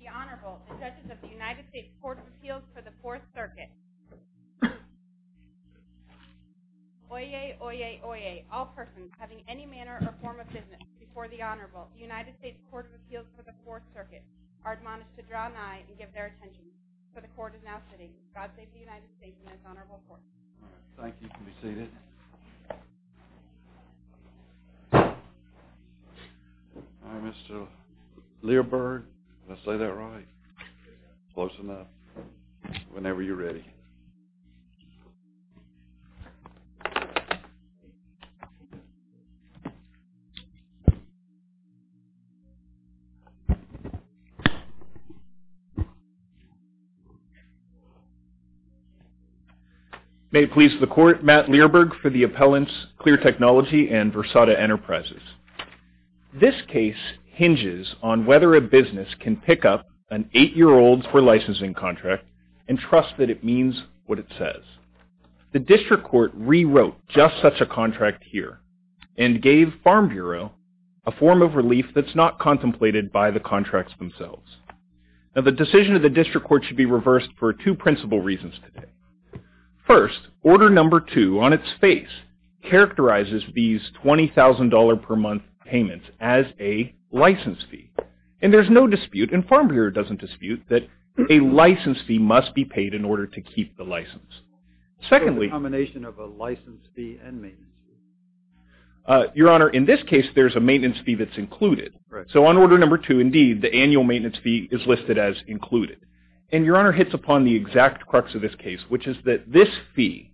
The Honorable, the Judges of the United States Court of Appeals for the Fourth Circuit. Oyez, oyez, oyez, all persons having any manner or form of business before the Honorable, the United States Court of Appeals for the Fourth Circuit, are admonished to draw an eye and give their attention. For the Court is now sitting. God save the United States and its Honorable Court. Thank you. You can be seated. All right, Mr. Learberg, did I say that right? Close enough. Whenever you're ready. May it please the Court, Matt Learberg for the appellants, Clear Technology and Versada Enterprises. This case hinges on whether a business can pick up an eight-year-old's for licensing contract and trust that it means what it says. The District Court rewrote just such a contract here and gave Farm Bureau a form of relief that's not contemplated by the contracts themselves. Now, the decision of the District Court should be reversed for two principal reasons today. First, order number two on its face characterizes these $20,000 per month payments as a license fee. And there's no dispute, and Farm Bureau doesn't dispute, that a license fee must be paid in order to keep the license. Secondly... A combination of a license fee and maintenance fee. Your Honor, in this case, there's a maintenance fee that's included. Right. So on order number two, indeed, the annual maintenance fee is listed as included. And Your Honor hits upon the exact crux of this case, which is that this fee,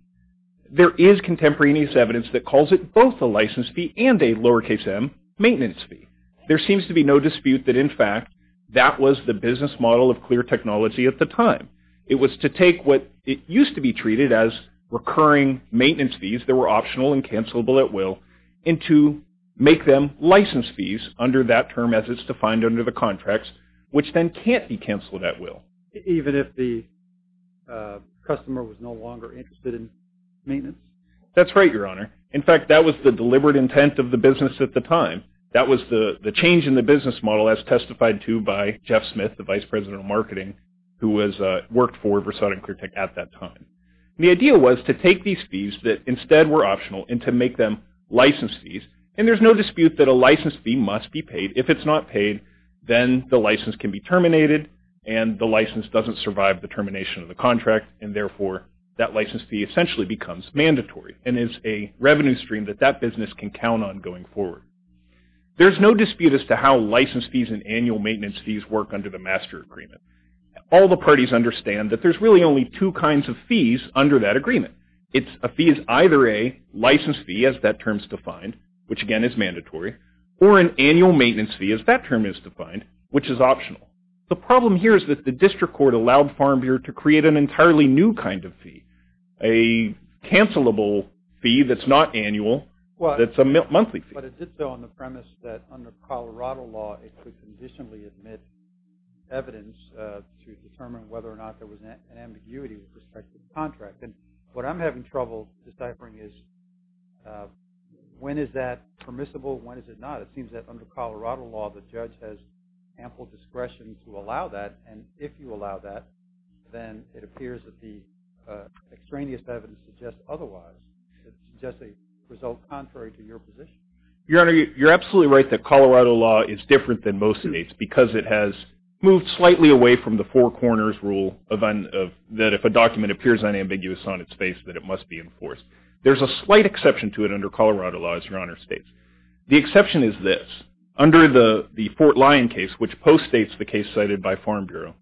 there is contemporaneous evidence that calls it both a license fee and a lowercase m, maintenance fee. There seems to be no dispute that, in fact, that was the business model of Clear Technology at the time. It was to take what used to be treated as recurring maintenance fees that were optional and cancelable at will, and to make them license fees under that term as it's defined under the contracts, which then can't be canceled at will. Even if the customer was no longer interested in maintenance? That's right, Your Honor. In fact, that was the deliberate intent of the business at the time. That was the change in the business model as testified to by Jeff Smith, the Vice President of Marketing, who worked for Versailles and Clear Tech at that time. The idea was to take these fees that instead were optional and to make them license fees. And there's no dispute that a license fee must be paid. If it's not paid, then the license can be terminated and the license doesn't survive the termination of the contract, and therefore that license fee essentially becomes mandatory and is a revenue stream that that business can count on going forward. There's no dispute as to how license fees and annual maintenance fees work under the master agreement. All the parties understand that there's really only two kinds of fees under that agreement. A fee is either a license fee, as that term's defined, which again is mandatory, or an annual maintenance fee, as that term is defined, which is optional. The problem here is that the district court allowed Farm Bureau to create an entirely new kind of fee, a cancelable fee that's not annual, that's a monthly fee. But it did so on the premise that under Colorado law, it could conditionally admit evidence to determine whether or not there was an ambiguity with respect to the contract. And what I'm having trouble deciphering is when is that permissible, when is it not? It seems that under Colorado law, the judge has ample discretion to allow that, and if you allow that, then it appears that the extraneous evidence suggests otherwise. It suggests a result contrary to your position. Your Honor, you're absolutely right that Colorado law is different than most states because it has moved slightly away from the four corners rule that if a document appears unambiguous on its face, that it must be enforced. There's a slight exception to it under Colorado law, as Your Honor states. The exception is this. Which post-states the case cited by Farm Bureau.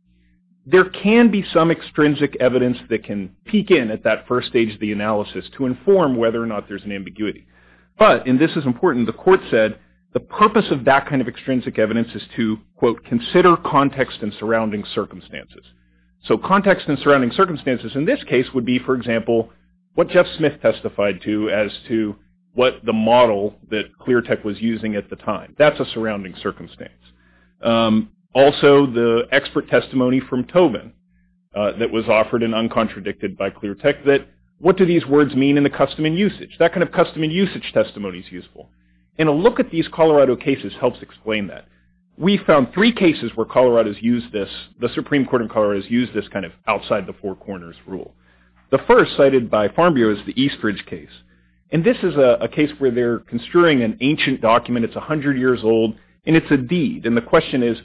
There can be some extrinsic evidence that can peek in at that first stage of the analysis to inform whether or not there's an ambiguity. But, and this is important, the court said the purpose of that kind of extrinsic evidence is to, quote, consider context and surrounding circumstances. So context and surrounding circumstances in this case would be, for example, what Jeff Smith testified to as to what the model that Clear Tech was using at the time. That's a surrounding circumstance. Also, the expert testimony from Tobin that was offered and uncontradicted by Clear Tech that what do these words mean in the custom and usage? That kind of custom and usage testimony is useful. And a look at these Colorado cases helps explain that. We found three cases where Colorado's used this, the Supreme Court of Colorado's used this kind of outside the four corners rule. The first cited by Farm Bureau is the Eastridge case. And this is a case where they're construing an ancient document. It's 100 years old, and it's a deed. And the question is,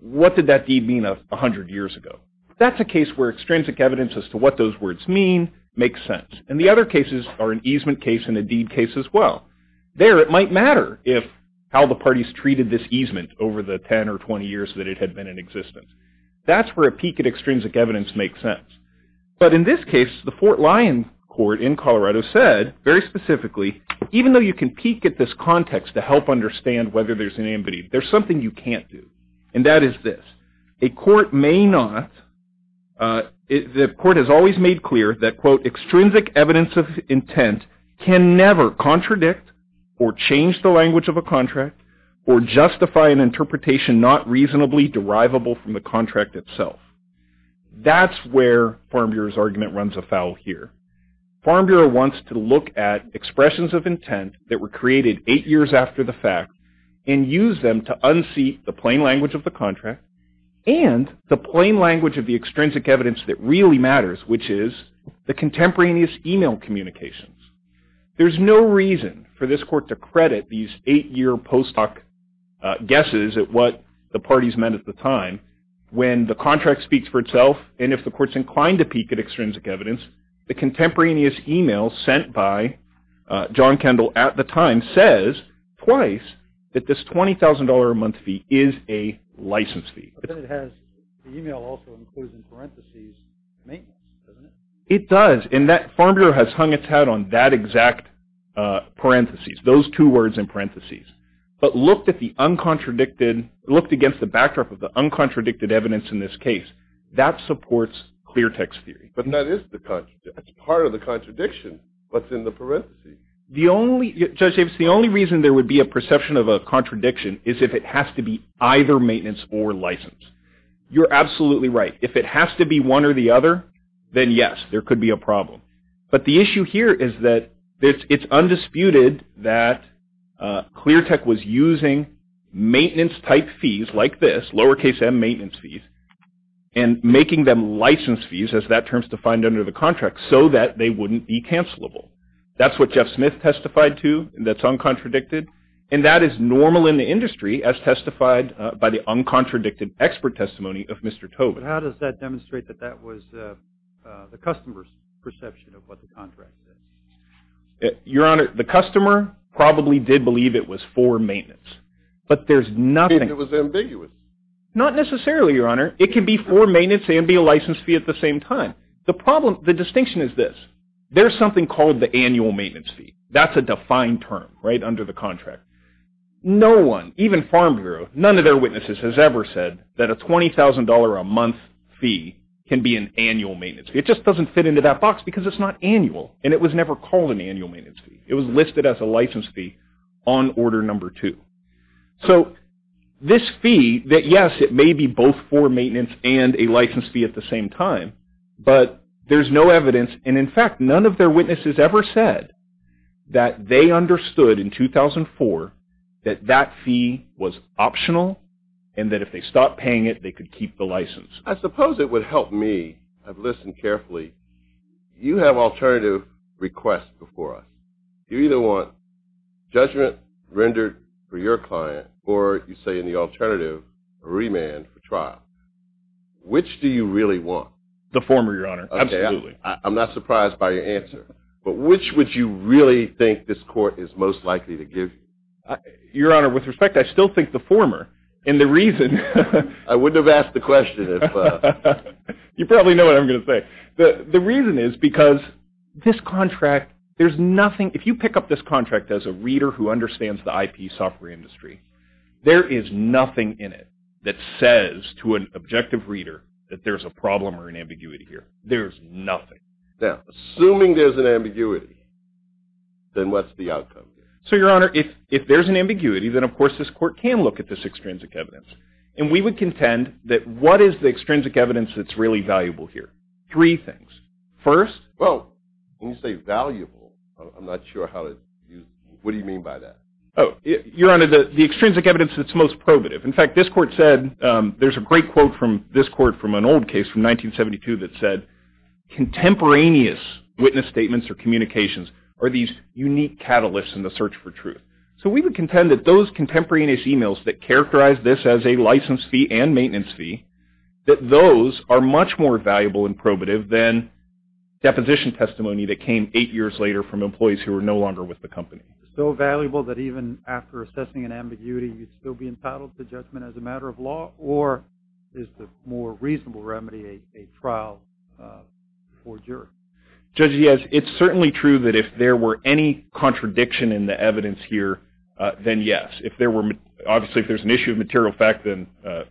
what did that deed mean 100 years ago? That's a case where extrinsic evidence as to what those words mean makes sense. And the other cases are an easement case and a deed case as well. There it might matter if how the parties treated this easement over the 10 or 20 years that it had been in existence. That's where a peek at extrinsic evidence makes sense. But in this case, the Fort Lyon court in Colorado said, very specifically, even though you can understand whether there's an amity, there's something you can't do. And that is this. A court may not, the court has always made clear that, quote, extrinsic evidence of intent can never contradict or change the language of a contract or justify an interpretation not reasonably derivable from the contract itself. That's where Farm Bureau's argument runs afoul here. Farm Bureau wants to look at expressions of intent that were created eight years after the fact and use them to unseat the plain language of the contract and the plain language of the extrinsic evidence that really matters, which is the contemporaneous e-mail communications. There's no reason for this court to credit these eight-year post-hoc guesses at what the parties meant at the time when the contract speaks for itself. And if the court's inclined to peek at extrinsic evidence, the contemporaneous e-mail sent by John Kendall at the time says twice that this $20,000 a month fee is a license fee. But then it has the e-mail also included in parentheses maintenance, doesn't it? It does. And that Farm Bureau has hung its hat on that exact parentheses, those two words in parentheses. But looked at the uncontradicted, looked against the backdrop of the uncontradicted evidence in this case, that supports Cleartech's theory. But that is the contradiction. That's part of the contradiction. What's in the parentheses? The only, Judge Avis, the only reason there would be a perception of a contradiction is if it has to be either maintenance or license. You're absolutely right. If it has to be one or the other, then yes, there could be a problem. But the issue here is that it's undisputed that Cleartech was using maintenance-type fees like this, lowercase m, maintenance fees, and making them license fees, as that term is defined under the contract, so that they wouldn't be cancelable. That's what Jeff Smith testified to. That's uncontradicted. And that is normal in the industry as testified by the uncontradicted expert testimony of Mr. Tobin. How does that demonstrate that that was the customer's perception of what the contract is? Your Honor, the customer probably did believe it was for maintenance. But there's nothing. And it was ambiguous. Not necessarily, Your Honor. It can be for maintenance and be a license fee at the same time. The problem, the distinction is this. There's something called the annual maintenance fee. That's a defined term, right, under the contract. No one, even Farm Bureau, none of their witnesses has ever said that a $20,000 a month fee can be an annual maintenance fee. It just doesn't fit into that box because it's not annual, and it was never called an annual maintenance fee. It was listed as a license fee on Order No. 2. So this fee, that, yes, it may be both for maintenance and a license fee at the same time, but there's no evidence. And, in fact, none of their witnesses ever said that they understood in 2004 that that fee was optional and that if they stopped paying it, they could keep the license. I suppose it would help me. I've listened carefully. You have alternative requests before us. You either want judgment rendered for your client or, you say in the alternative, remand for trial. Which do you really want? The former, Your Honor. Absolutely. I'm not surprised by your answer. But which would you really think this court is most likely to give you? Your Honor, with respect, I still think the former, and the reason— I wouldn't have asked the question if— You probably know what I'm going to say. The reason is because this contract, there's nothing— if you pick up this contract as a reader who understands the IP software industry, there is nothing in it that says to an objective reader that there's a problem or an ambiguity here. There's nothing. Now, assuming there's an ambiguity, then what's the outcome here? So, Your Honor, if there's an ambiguity, then, of course, this court can look at this extrinsic evidence. And we would contend that what is the extrinsic evidence that's really valuable here? Three things. First— Well, when you say valuable, I'm not sure how to—what do you mean by that? Oh, Your Honor, the extrinsic evidence that's most probative. In fact, this court said—there's a great quote from this court from an old case from 1972 that said, contemporaneous witness statements or communications are these unique catalysts in the search for truth. So we would contend that those contemporaneous emails that characterize this as a license fee and maintenance fee, that those are much more valuable and probative than deposition testimony that came eight years later from employees who are no longer with the company. So valuable that even after assessing an ambiguity, you'd still be entitled to judgment as a matter of law, or is the more reasonable remedy a trial for jury? Judge Diaz, it's certainly true that if there were any contradiction in the evidence here, then yes. Obviously, if there's an issue of material fact, then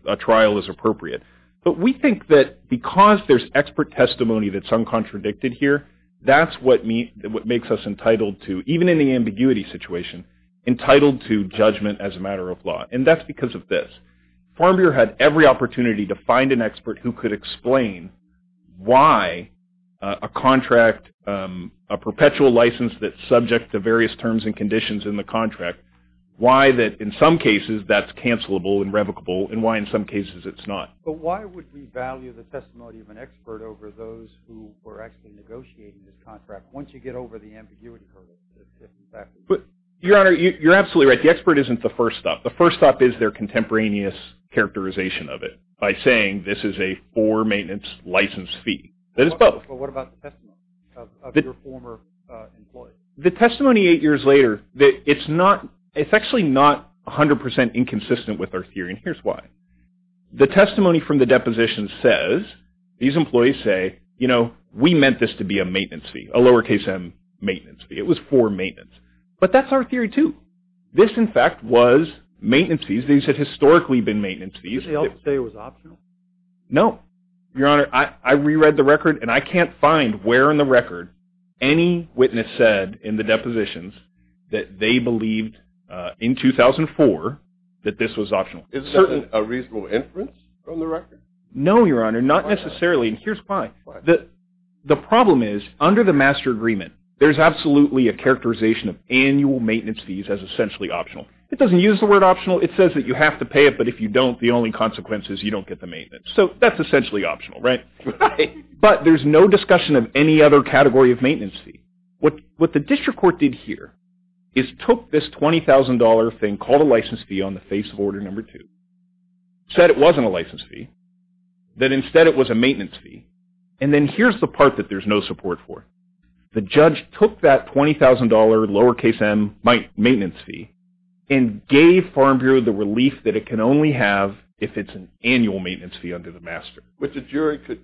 a trial is appropriate. But we think that because there's expert testimony that's uncontradicted here, that's what makes us entitled to—even in the ambiguity situation—entitled to judgment as a matter of law. And that's because of this. Formbier had every opportunity to find an expert who could explain why a contract, a perpetual license that's subject to various terms and conditions in the contract, why that in some cases that's cancelable and revocable and why in some cases it's not. But why would we value the testimony of an expert over those who were actually negotiating the contract once you get over the ambiguity hurdle? Your Honor, you're absolutely right. The expert isn't the first stop. The first stop is their contemporaneous characterization of it by saying this is a for-maintenance license fee. That is both. But what about the testimony of your former employee? The testimony eight years later, it's actually not 100% inconsistent with our theory, and here's why. The testimony from the deposition says, these employees say, you know, we meant this to be a maintenance fee, a lowercase m maintenance fee. It was for maintenance. But that's our theory too. This, in fact, was maintenance fees. These had historically been maintenance fees. Did they also say it was optional? No. Your Honor, I reread the record, and I can't find where in the record any witness said in the depositions that they believed in 2004 that this was optional. Is there a reasonable inference from the record? No, Your Honor, not necessarily, and here's why. The problem is, under the master agreement, there's absolutely a characterization of annual maintenance fees as essentially optional. It doesn't use the word optional. It says that you have to pay it, but if you don't, the only consequence is you don't get the maintenance. So that's essentially optional, right? Right. But there's no discussion of any other category of maintenance fee. What the district court did here is took this $20,000 thing called a license fee on the face of Order No. 2, said it wasn't a license fee, that instead it was a maintenance fee, and then here's the part that there's no support for. The judge took that $20,000 lowercase m maintenance fee and gave Farm Bureau the relief that it can only have if it's an annual maintenance fee under the master. Which a jury could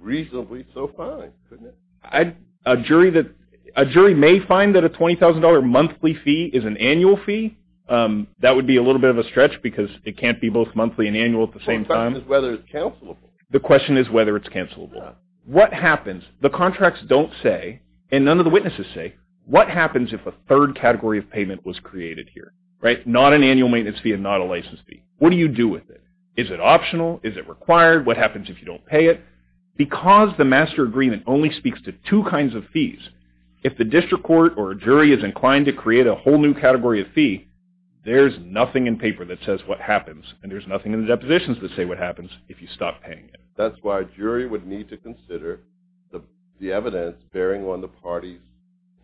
reasonably so find, couldn't it? A jury may find that a $20,000 monthly fee is an annual fee. That would be a little bit of a stretch because it can't be both monthly and annual at the same time. The question is whether it's cancelable. The question is whether it's cancelable. What happens? The contracts don't say, and none of the witnesses say, what happens if a third category of payment was created here, right? Not an annual maintenance fee and not a license fee. What do you do with it? Is it optional? Is it required? What happens if you don't pay it? Because the master agreement only speaks to two kinds of fees, if the district court or a jury is inclined to create a whole new category of fee, there's nothing in paper that says what happens, and there's nothing in the depositions that say what happens if you stop paying it. That's why a jury would need to consider the evidence bearing on the party's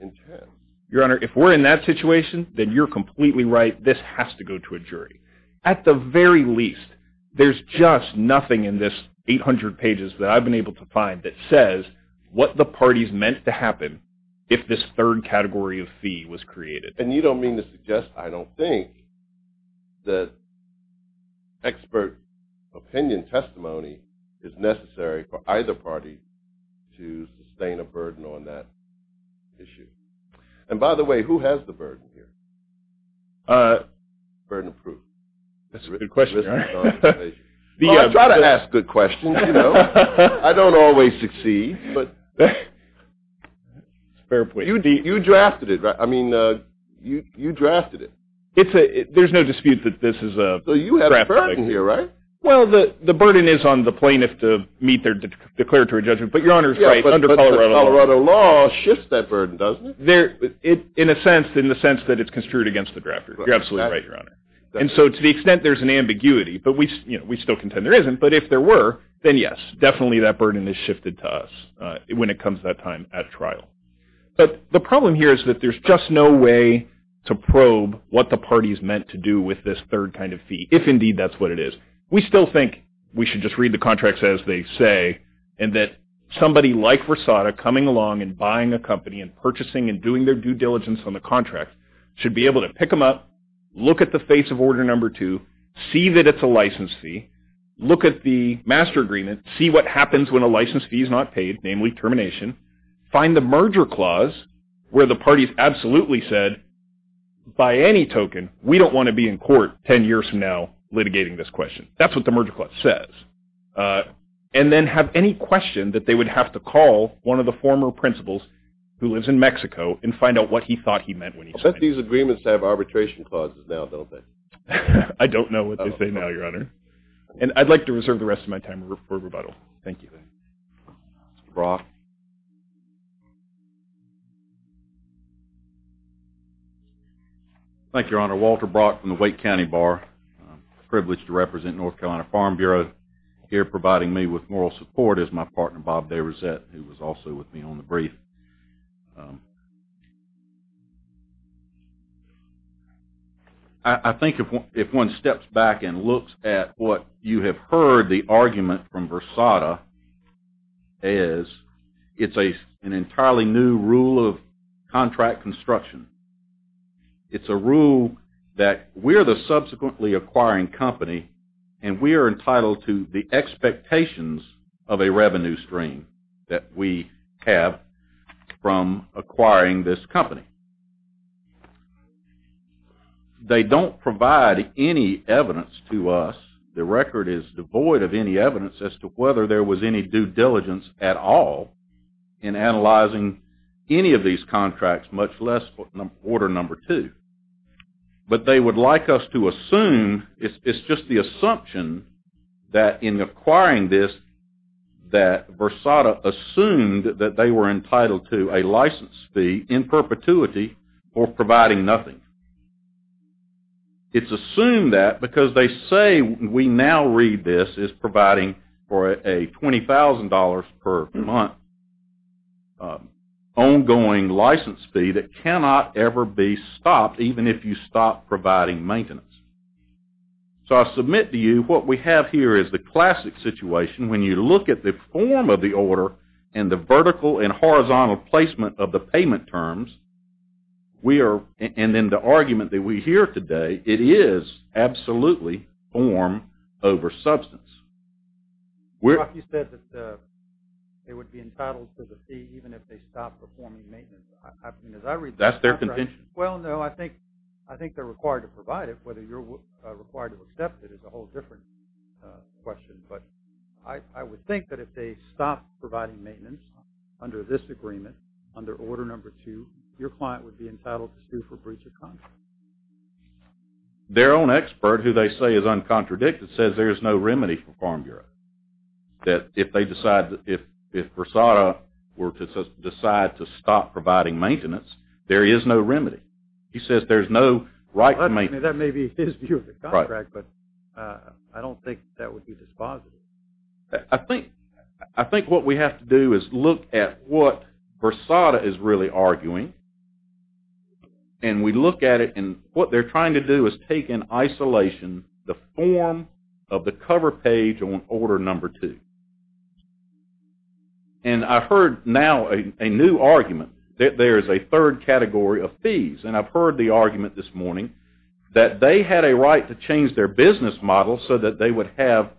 intent. Your Honor, if we're in that situation, then you're completely right. This has to go to a jury. At the very least, there's just nothing in this 800 pages that I've been able to find that says what the party's meant to happen if this third category of fee was created. And you don't mean to suggest I don't think that expert opinion testimony is necessary for either party to sustain a burden on that issue. And by the way, who has the burden here? Burden approved. That's a good question, Your Honor. I try to ask good questions, you know. I don't always succeed, but you drafted it. There's no dispute that this is a draft. So you have a burden here, right? Well, the burden is on the plaintiff to meet their declaratory judgment, but Your Honor's right, under Colorado law. But Colorado law shifts that burden, doesn't it? In a sense, in the sense that it's construed against the drafters. You're absolutely right, Your Honor. And so to the extent there's an ambiguity, but we still contend there isn't, but if there were, then yes, definitely that burden is shifted to us when it comes to that time at trial. But the problem here is that there's just no way to probe what the party is meant to do with this third kind of fee, if indeed that's what it is. We still think we should just read the contracts as they say, and that somebody like Rosada coming along and buying a company and purchasing and doing their due diligence on the contract should be able to pick them up, look at the face of order number two, see that it's a license fee, look at the master agreement, see what happens when a license fee is not paid, namely termination, find the merger clause where the parties absolutely said, by any token, we don't want to be in court ten years from now litigating this question. That's what the merger clause says. And then have any question that they would have to call one of the former principals who lives in Mexico and find out what he thought he meant when he signed it. But these agreements have arbitration clauses now, don't they? I don't know what they say now, Your Honor. And I'd like to reserve the rest of my time for rebuttal. Thank you. Mr. Brock. Thank you, Your Honor. Walter Brock from the Wake County Bar. I'm privileged to represent North Carolina Farm Bureau. Here providing me with moral support is my partner, Bob DeRosette, who was also with me on the brief. And I think if one steps back and looks at what you have heard the argument from Versada is, it's an entirely new rule of contract construction. It's a rule that we're the subsequently acquiring company, and we are entitled to the expectations of a revenue stream that we have from acquiring this company. They don't provide any evidence to us. The record is devoid of any evidence as to whether there was any due diligence at all in analyzing any of these contracts, much less order number two. But they would like us to assume, it's just the assumption that in acquiring this, that Versada assumed that they were entitled to a license fee in perpetuity for providing nothing. It's assumed that because they say we now read this as providing for a $20,000 per month ongoing license fee that cannot ever be stopped, even if you stop providing maintenance. So I submit to you what we have here is the classic situation. When you look at the form of the order and the vertical and horizontal placement of the payment terms, and then the argument that we hear today, it is absolutely form over substance. Chuck, you said that they would be entitled to the fee even if they stopped performing maintenance. That's their contention. Well, no, I think they're required to provide it. Whether you're required to accept it is a whole different question. But I would think that if they stopped providing maintenance under this agreement, under order number two, your client would be entitled to sue for breach of contract. Their own expert, who they say is uncontradicted, says there's no remedy for Farm Bureau. That if Versada were to decide to stop providing maintenance, there is no remedy. He says there's no right to maintain. That may be his view of the contract, but I don't think that would be dispositive. I think what we have to do is look at what Versada is really arguing, and we look at it, and what they're trying to do is take in isolation the form of the cover page on order number two. And I heard now a new argument that there is a third category of fees, and I've heard the argument this morning that they had a right to change their business model so that they would have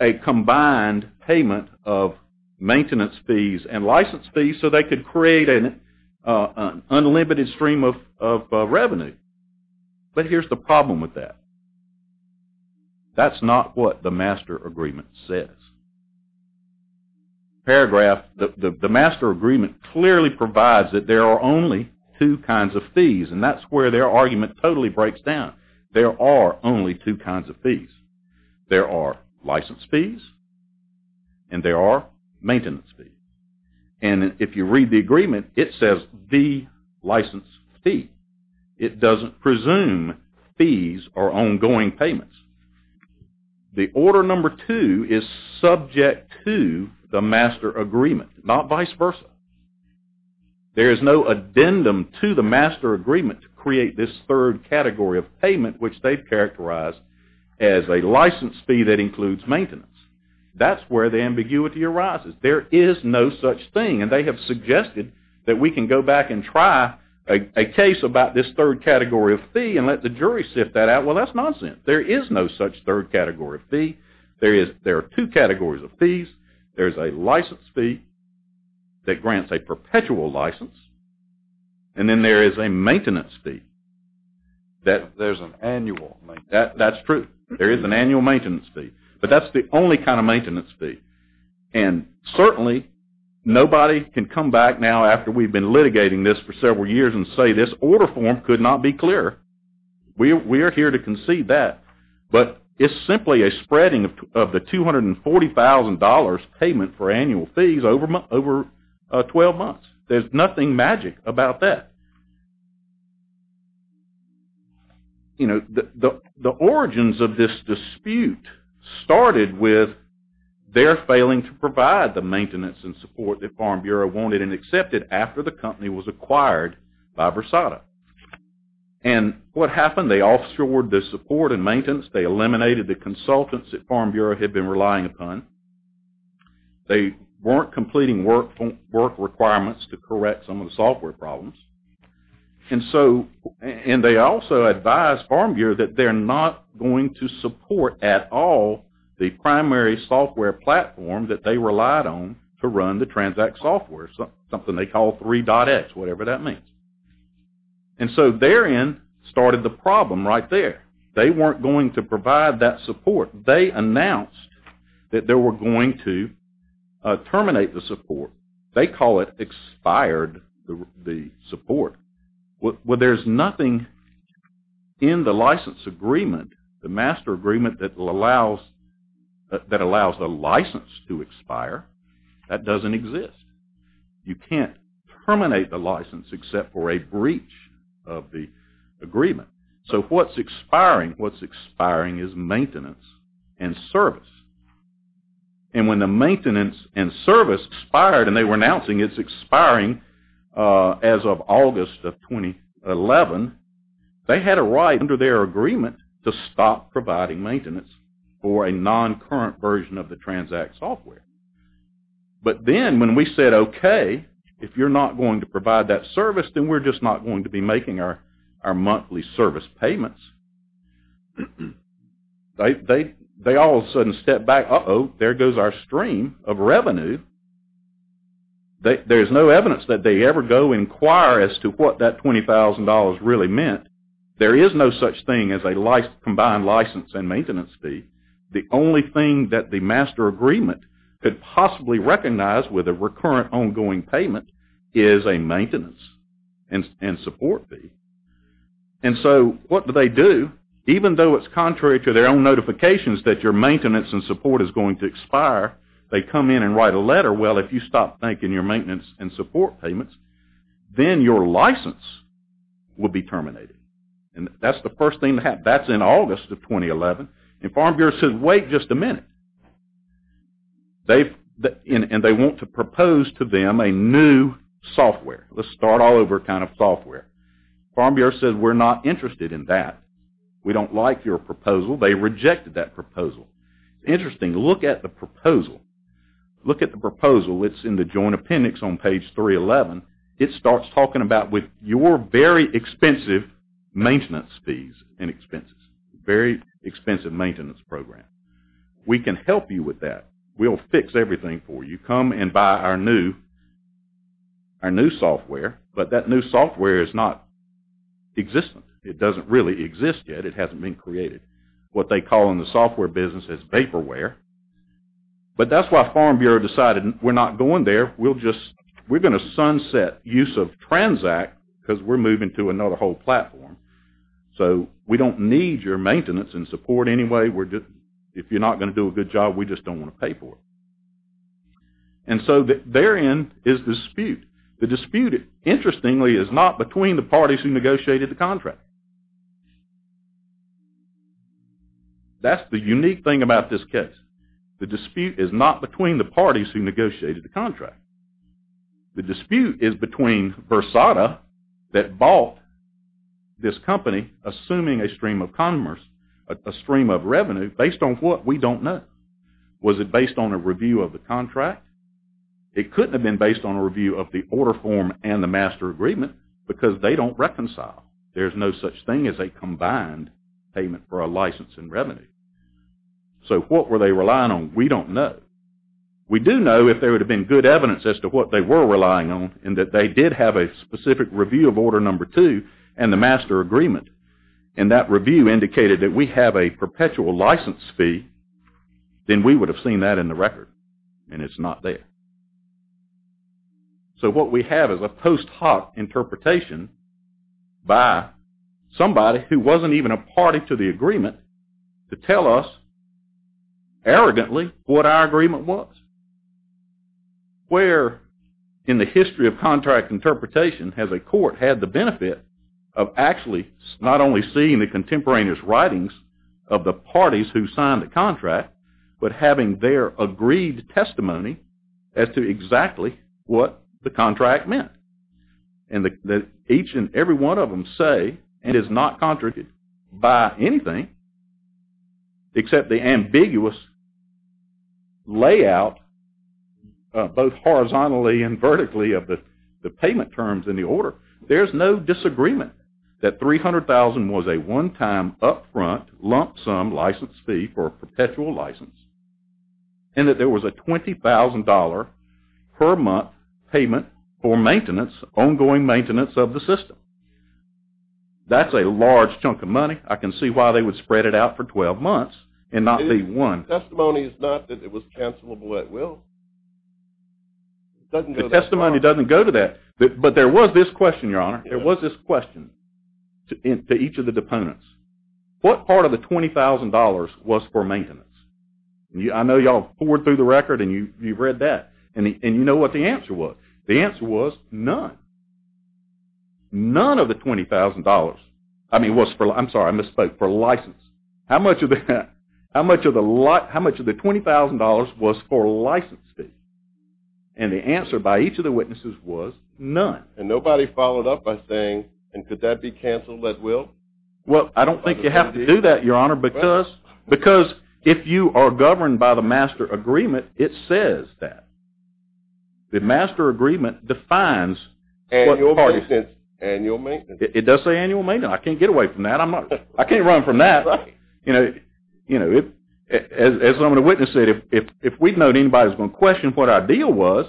a combined payment of maintenance fees and license fees so they could create an unlimited stream of revenue. But here's the problem with that. That's not what the master agreement says. The master agreement clearly provides that there are only two kinds of fees, and that's where their argument totally breaks down. There are only two kinds of fees. There are license fees, and there are maintenance fees. And if you read the agreement, it says the license fee. It doesn't presume fees are ongoing payments. The order number two is subject to the master agreement, not vice versa. There is no addendum to the master agreement to create this third category of payment, which they've characterized as a license fee that includes maintenance. That's where the ambiguity arises. There is no such thing, and they have suggested that we can go back and try a case about this third category of fee and let the jury sift that out. Well, that's nonsense. There is no such third category of fee. There are two categories of fees. There's a license fee that grants a perpetual license, and then there is a maintenance fee. There's an annual maintenance fee. That's true. There is an annual maintenance fee, but that's the only kind of maintenance fee. And certainly nobody can come back now after we've been litigating this for several years and say this order form could not be clearer. We are here to concede that. But it's simply a spreading of the $240,000 payment for annual fees over 12 months. There's nothing magic about that. The origins of this dispute started with their failing to provide the maintenance and support that Farm Bureau wanted and accepted after the company was acquired by Versada. And what happened? They offshored the support and maintenance. They eliminated the consultants that Farm Bureau had been relying upon. They weren't completing work requirements to correct some of the software problems. And they also advised Farm Bureau that they're not going to support at all the primary software platform that they relied on to run the transact software, something they call 3.X, whatever that means. And so therein started the problem right there. They weren't going to provide that support. They announced that they were going to terminate the support. They call it expired support. Well, there's nothing in the license agreement, the master agreement that allows the license to expire. That doesn't exist. You can't terminate the license except for a breach of the agreement. So what's expiring? What's expiring is maintenance and service. And when the maintenance and service expired, and they were announcing it's expiring as of August of 2011, they had a right under their agreement to stop providing maintenance for a non-current version of the transact software. But then when we said, okay, if you're not going to provide that service, then we're just not going to be making our monthly service payments, they all of a sudden step back, uh-oh, there goes our stream of revenue. There's no evidence that they ever go inquire as to what that $20,000 really meant. There is no such thing as a combined license and maintenance fee. The only thing that the master agreement could possibly recognize with a recurrent ongoing payment is a maintenance and support fee. And so what do they do? Even though it's contrary to their own notifications that your maintenance and support is going to expire, they come in and write a letter. Well, if you stop making your maintenance and support payments, then your license will be terminated. And that's the first thing to happen. That's in August of 2011. And Farm Bureau said, wait just a minute. And they want to propose to them a new software. Let's start all over kind of software. Farm Bureau said, we're not interested in that. We don't like your proposal. They rejected that proposal. Interesting, look at the proposal. Look at the proposal. It's in the joint appendix on page 311. It starts talking about your very expensive maintenance fees and expenses, very expensive maintenance program. We can help you with that. We'll fix everything for you. We're going to come and buy our new software, but that new software is not existent. It doesn't really exist yet. It hasn't been created. What they call in the software business is paperware. But that's why Farm Bureau decided we're not going there. We're going to sunset use of Transact because we're moving to another whole platform. So we don't need your maintenance and support anyway. If you're not going to do a good job, we just don't want to pay for it. And so therein is dispute. The dispute, interestingly, is not between the parties who negotiated the contract. That's the unique thing about this case. The dispute is not between the parties who negotiated the contract. The dispute is between Versada that bought this company, assuming a stream of commerce, a stream of revenue, based on what? We don't know. Was it based on a review of the contract? It couldn't have been based on a review of the order form and the master agreement because they don't reconcile. There's no such thing as a combined payment for a license and revenue. So what were they relying on? We don't know. We do know if there would have been good evidence as to what they were relying on and that they did have a specific review of order number two and the master agreement and that review indicated that we have a perpetual license fee, then we would have seen that in the record and it's not there. So what we have is a post hoc interpretation by somebody who wasn't even a party to the agreement to tell us arrogantly what our agreement was. Where in the history of contract interpretation has a court had the benefit of actually not only seeing the contemporaneous writings of the parties who signed the contract but having their agreed testimony as to exactly what the contract meant and that each and every one of them say and is not contradicted by anything except the ambiguous layout both horizontally and vertically of the payment terms in the order. There's no disagreement that $300,000 was a one-time upfront lump sum license fee for a perpetual license and that there was a $20,000 per month payment for maintenance, ongoing maintenance of the system. That's a large chunk of money. I can see why they would spread it out for 12 months and not be one. The testimony is not that it was cancelable at will. The testimony doesn't go to that. But there was this question, Your Honor. There was this question to each of the deponents. What part of the $20,000 was for maintenance? I know you all poured through the record and you've read that and you know what the answer was. The answer was none. None of the $20,000. I'm sorry, I misspoke. For license. How much of the $20,000 was for license fee? And the answer by each of the witnesses was none. And nobody followed up by saying, and could that be canceled at will? Well, I don't think you have to do that, Your Honor, because if you are governed by the master agreement, it says that. The master agreement defines. Annual maintenance. Annual maintenance. It does say annual maintenance. I can't get away from that. I can't run from that. As one of the witnesses said, if we'd known anybody was going to question what our deal was,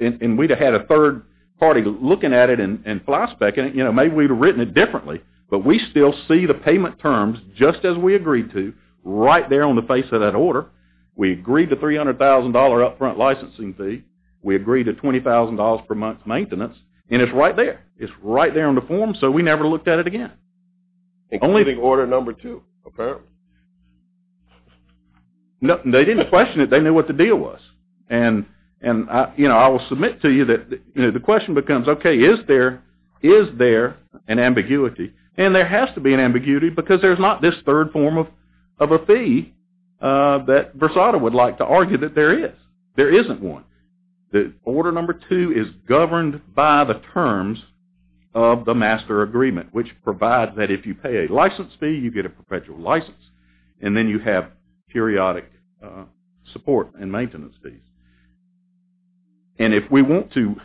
and we'd have had a third party looking at it and flashing back, maybe we'd have written it differently. But we still see the payment terms just as we agreed to, right there on the face of that order. We agreed to $300,000 up front licensing fee. We agreed to $20,000 per month maintenance, and it's right there. It's right there on the form, so we never looked at it again. Including order number two, apparently. They didn't question it. They knew what the deal was. And I will submit to you that the question becomes, okay, is there an ambiguity? And there has to be an ambiguity, because there's not this third form of a fee that Versada would like to argue that there is. There isn't one. Order number two is governed by the terms of the master agreement, which provide that if you pay a license fee, you get a perpetual license. And then you have periodic support and maintenance fees. And if we want to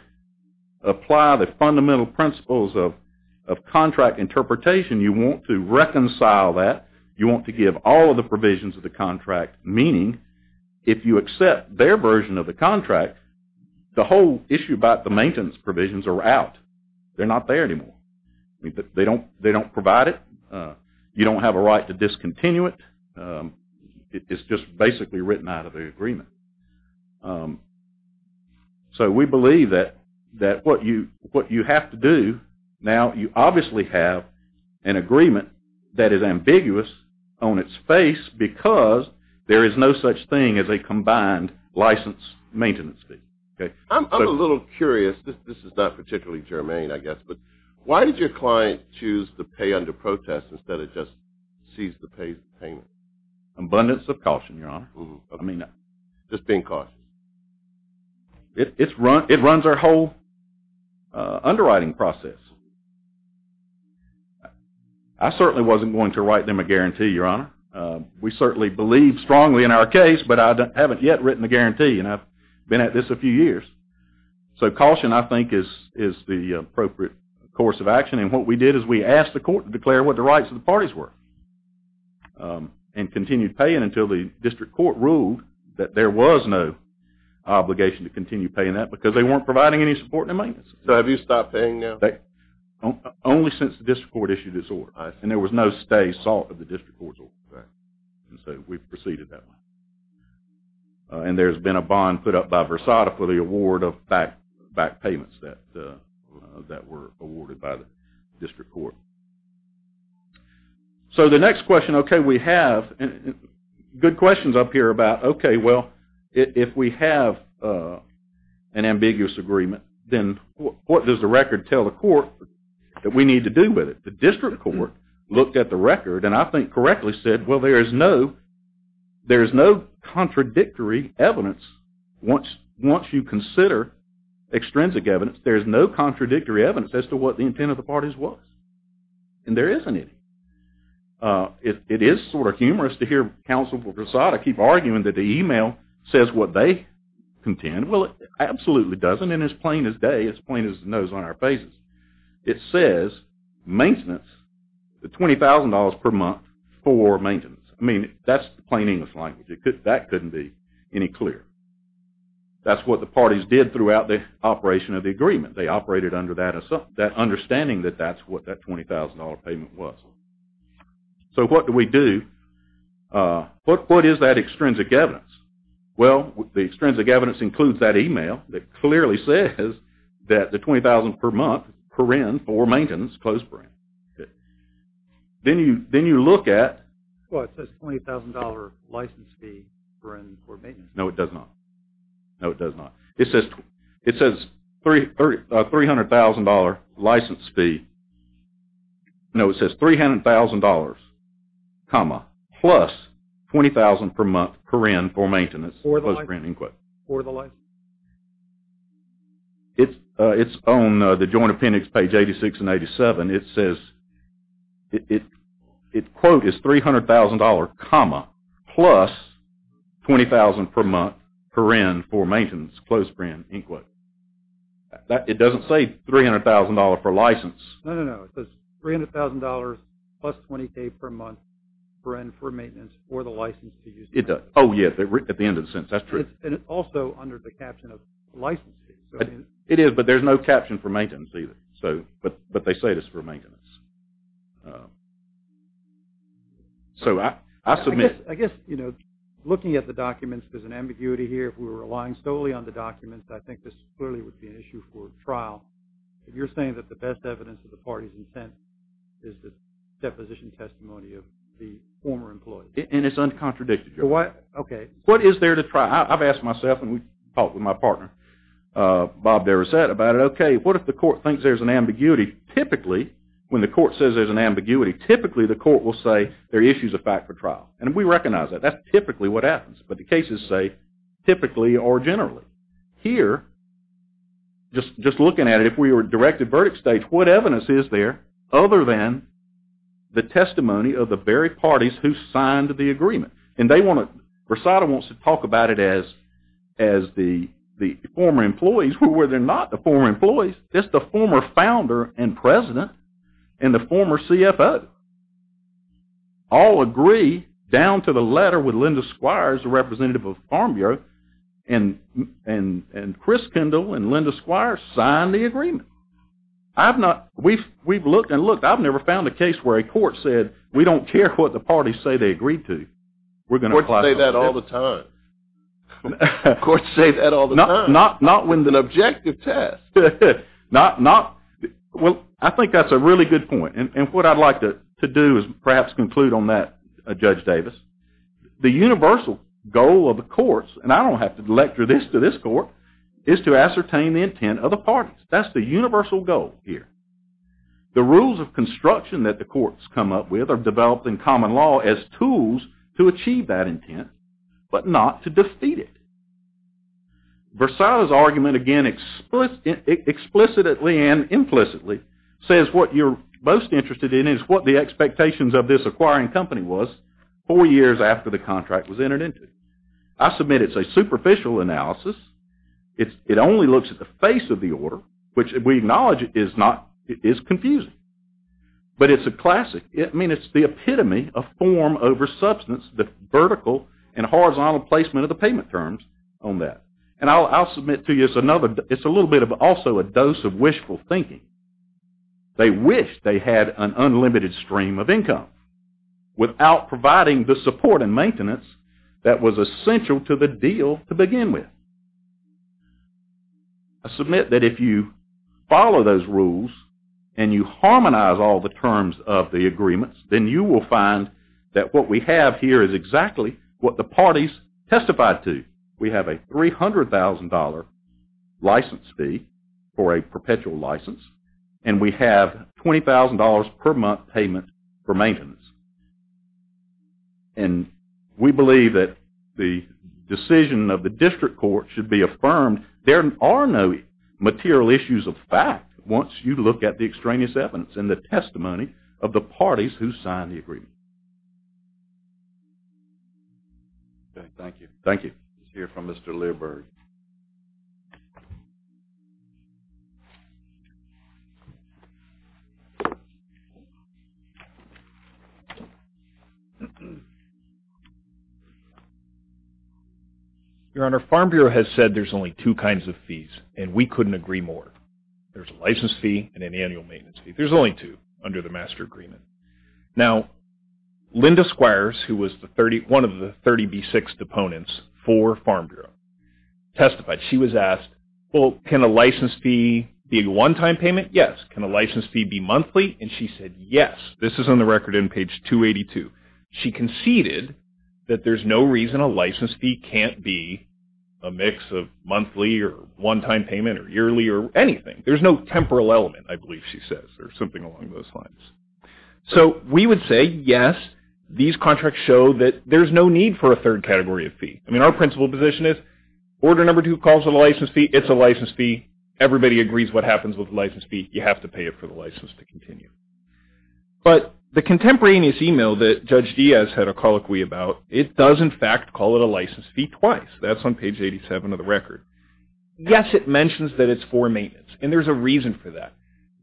apply the fundamental principles of contract interpretation, you want to reconcile that. You want to give all of the provisions of the contract, meaning if you accept their version of the contract, the whole issue about the maintenance provisions are out. They're not there anymore. They don't provide it. You don't have a right to discontinue it. It's just basically written out of the agreement. So we believe that what you have to do, now you obviously have an agreement that is ambiguous on its face, because there is no such thing as a combined license maintenance fee. I'm a little curious. This is not particularly germane, I guess, but why did your client choose to pay under protest instead of just seize the payment? Abundance of caution, Your Honor. Just being cautious. It runs our whole underwriting process. I certainly wasn't going to write them a guarantee, Your Honor. We certainly believe strongly in our case, but I haven't yet written a guarantee, and I've been at this a few years. So caution, I think, is the appropriate course of action, and what we did is we asked the court to declare what the rights of the parties were and continued paying until the district court ruled that there was no obligation to continue paying that because they weren't providing any support and maintenance. So have you stopped paying now? Only since the district court issued this order, and there was no stay, salt of the district court's order. And so we've proceeded that way. And there's been a bond put up by Versada for the award of back payments that were awarded by the district court. So the next question, okay, we have good questions up here about, okay, well, if we have an ambiguous agreement, then what does the record tell the court that we need to do with it? The district court looked at the record and I think correctly said, well, there is no contradictory evidence. Once you consider extrinsic evidence, there is no contradictory evidence as to what the intent of the parties was. And there isn't any. It is sort of humorous to hear counsel for Versada keep arguing that the email says what they contend. Well, it absolutely doesn't, and it's plain as day. It's plain as the nose on our faces. It says maintenance, the $20,000 per month for maintenance. I mean, that's plain English language. That couldn't be any clearer. That's what the parties did throughout the operation of the agreement. They operated under that understanding that that's what that $20,000 payment was. So what do we do? What is that extrinsic evidence? Well, the extrinsic evidence includes that email that clearly says that the $20,000 per month for maintenance. Then you look at. Well, it says $20,000 license fee for maintenance. No, it does not. No, it does not. It says $300,000 license fee. No, it says $300,000, plus $20,000 per month for maintenance. For the license. It's on the joint appendix, page 86 and 87. It says. It's quote is $300,000 comma, plus $20,000 per month per in for maintenance. Close brand input. It doesn't say $300,000 for license. No, no, no. It says $300,000 plus $20,000 per month per in for maintenance for the license. It does. Oh, yeah, at the end of the sentence. That's true. And it's also under the caption of license fee. It is, but there's no caption for maintenance either. But they say it's for maintenance. So I submit. I guess, you know, looking at the documents, there's an ambiguity here. If we were relying solely on the documents, I think this clearly would be an issue for trial. If you're saying that the best evidence of the party's intent is the deposition testimony of the former employee. And it's uncontradicted. Okay. What is there to try? I've asked myself, and we've talked with my partner, Bob Derricette, about it. Okay, what if the court thinks there's an ambiguity? Typically, when the court says there's an ambiguity, typically the court will say there are issues of fact for trial. And we recognize that. That's typically what happens. But the cases say typically or generally. Here, just looking at it, if we were directed verdict stage, what evidence is there other than the testimony of the very parties who signed the agreement? And they want to – Versada wants to talk about it as the former employees, where they're not the former employees. It's the former founder and president and the former CFO all agree, down to the letter with Linda Squires, the representative of Farm Bureau, and Chris Kendall and Linda Squires signed the agreement. We've looked and looked. I've never found a case where a court said, we don't care what the parties say they agreed to. Courts say that all the time. Courts say that all the time. Not when the objective test. Well, I think that's a really good point. And what I'd like to do is perhaps conclude on that, Judge Davis. The universal goal of the courts, and I don't have to lecture this to this court, is to ascertain the intent of the parties. That's the universal goal here. The rules of construction that the courts come up with are developed in common law as tools to achieve that intent, but not to defeat it. Versada's argument, again, explicitly and implicitly, says what you're most interested in is what the expectations of this acquiring company was four years after the contract was entered into. I submit it's a superficial analysis. It only looks at the face of the order, which we acknowledge is confusing. But it's a classic. I mean, it's the epitome of form over substance, the vertical and horizontal placement of the payment terms on that. And I'll submit to you it's a little bit of also a dose of wishful thinking. They wish they had an unlimited stream of income without providing the support and maintenance that was essential to the deal to begin with. I submit that if you follow those rules and you harmonize all the terms of the agreements, then you will find that what we have here is exactly what the parties testified to. We have a $300,000 license fee for a perpetual license, and we have $20,000 per month payment for maintenance. And we believe that the decision of the district court should be affirmed. There are no material issues of fact once you look at the extraneous evidence and the testimony of the parties who signed the agreement. Okay, thank you. Thank you. Let's hear from Mr. Learberg. Your Honor, Farm Bureau has said there's only two kinds of fees, and we couldn't agree more. There's a license fee and an annual maintenance fee. There's only two under the master agreement. Now, Linda Squires, who was one of the 30B6 deponents for Farm Bureau, testified. She was asked, well, can a license fee be a one-time payment? Yes. Can a license fee be monthly? And she said yes. This is on the record in page 2. 282. She conceded that there's no reason a license fee can't be a mix of monthly or one-time payment or yearly or anything. There's no temporal element, I believe she says, or something along those lines. So we would say yes, these contracts show that there's no need for a third category of fee. I mean, our principal position is order number two calls for the license fee. It's a license fee. Everybody agrees what happens with the license fee. You have to pay it for the license to continue. But the contemporaneous email that Judge Diaz had a colloquy about, it does, in fact, call it a license fee twice. That's on page 87 of the record. Yes, it mentions that it's for maintenance, and there's a reason for that.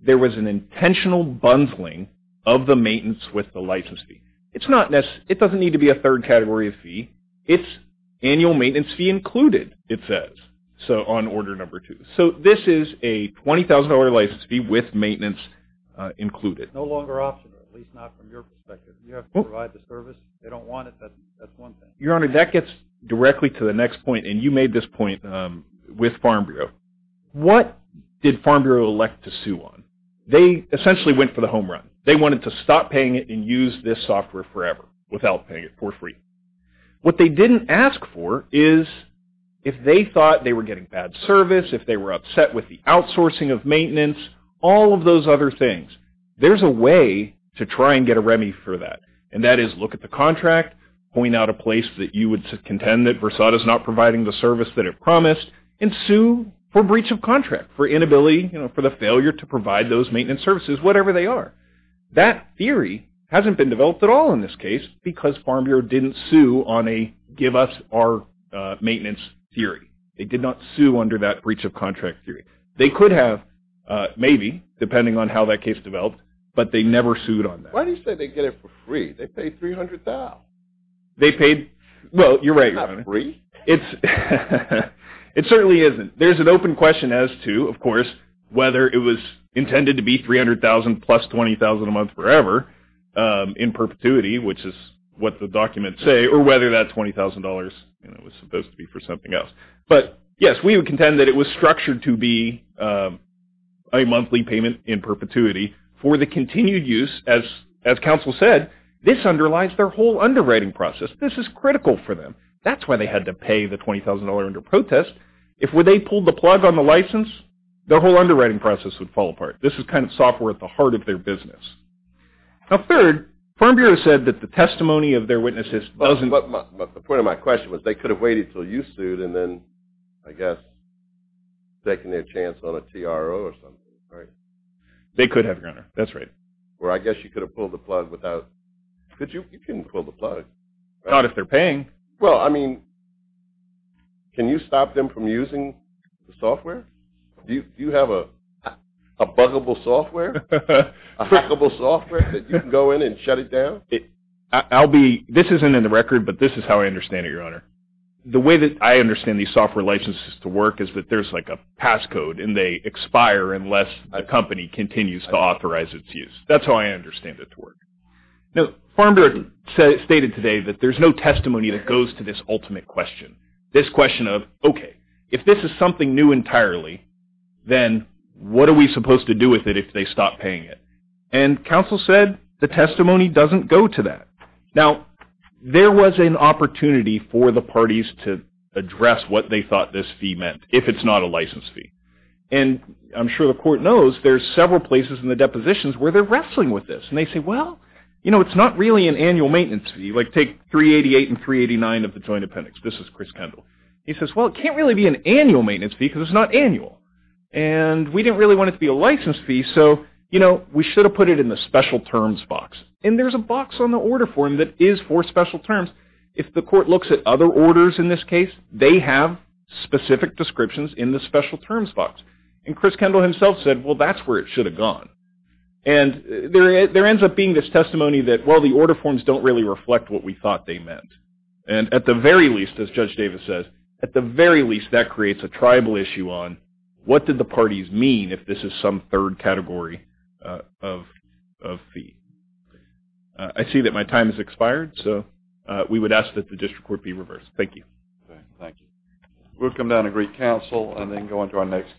There was an intentional bundling of the maintenance with the license fee. It doesn't need to be a third category of fee. It's annual maintenance fee included, it says, on order number two. So this is a $20,000 license fee with maintenance included. No longer optional, at least not from your perspective. You have to provide the service. They don't want it. That's one thing. Your Honor, that gets directly to the next point, and you made this point with Farm Bureau. What did Farm Bureau elect to sue on? They essentially went for the home run. They wanted to stop paying it and use this software forever without paying it for free. What they didn't ask for is if they thought they were getting bad service, if they were upset with the outsourcing of maintenance, all of those other things. There's a way to try and get a Remy for that, and that is look at the contract, point out a place that you would contend that Versailles is not providing the service that it promised, and sue for breach of contract, for inability, you know, for the failure to provide those maintenance services, whatever they are. That theory hasn't been developed at all in this case because Farm Bureau didn't sue on a give us our maintenance theory. It did not sue under that breach of contract theory. They could have, maybe, depending on how that case developed, but they never sued on that. Why do you say they get it for free? They paid $300,000. They paid, well, you're right, Your Honor. It's not free. It certainly isn't. There's an open question as to, of course, whether it was intended to be $300,000 plus $20,000 a month forever in perpetuity, which is what the documents say, or whether that $20,000, you know, was supposed to be for something else. But, yes, we would contend that it was structured to be a monthly payment in perpetuity for the continued use. As counsel said, this underlines their whole underwriting process. This is critical for them. That's why they had to pay the $20,000 under protest. If they pulled the plug on the license, their whole underwriting process would fall apart. This is kind of software at the heart of their business. Now, third, Farm Bureau said that the testimony of their witnesses doesn't – But the point of my question was they could have waited until you sued and then, I guess, taken their chance on a TRO or something, right? They could have, Your Honor. That's right. Or I guess you could have pulled the plug without – you couldn't pull the plug. Not if they're paying. Well, I mean, can you stop them from using the software? Do you have a buggable software, a hackable software that you can go in and shut it down? I'll be – this isn't in the record, but this is how I understand it, Your Honor. The way that I understand these software licenses to work is that there's, like, a passcode, and they expire unless a company continues to authorize its use. That's how I understand it to work. Now, Farm Bureau stated today that there's no testimony that goes to this ultimate question, this question of, okay, if this is something new entirely, then what are we supposed to do with it if they stop paying it? And counsel said the testimony doesn't go to that. Now, there was an opportunity for the parties to address what they thought this fee meant, if it's not a license fee. And I'm sure the court knows there's several places in the depositions where they're wrestling with this. And they say, well, you know, it's not really an annual maintenance fee. Like, take 388 and 389 of the Joint Appendix. This is Chris Kendall. He says, well, it can't really be an annual maintenance fee because it's not annual. And we didn't really want it to be a license fee, so, you know, we should have put it in the special terms box. And there's a box on the order form that is for special terms. If the court looks at other orders in this case, they have specific descriptions in the special terms box. And Chris Kendall himself said, well, that's where it should have gone. And there ends up being this testimony that, well, the order forms don't really reflect what we thought they meant. And at the very least, as Judge Davis says, at the very least, that creates a tribal issue on what did the parties mean if this is some third category of fee. I see that my time has expired, so we would ask that the district court be reversed. Thank you. Thank you. We'll come down to Greek Council and then go on to our next case.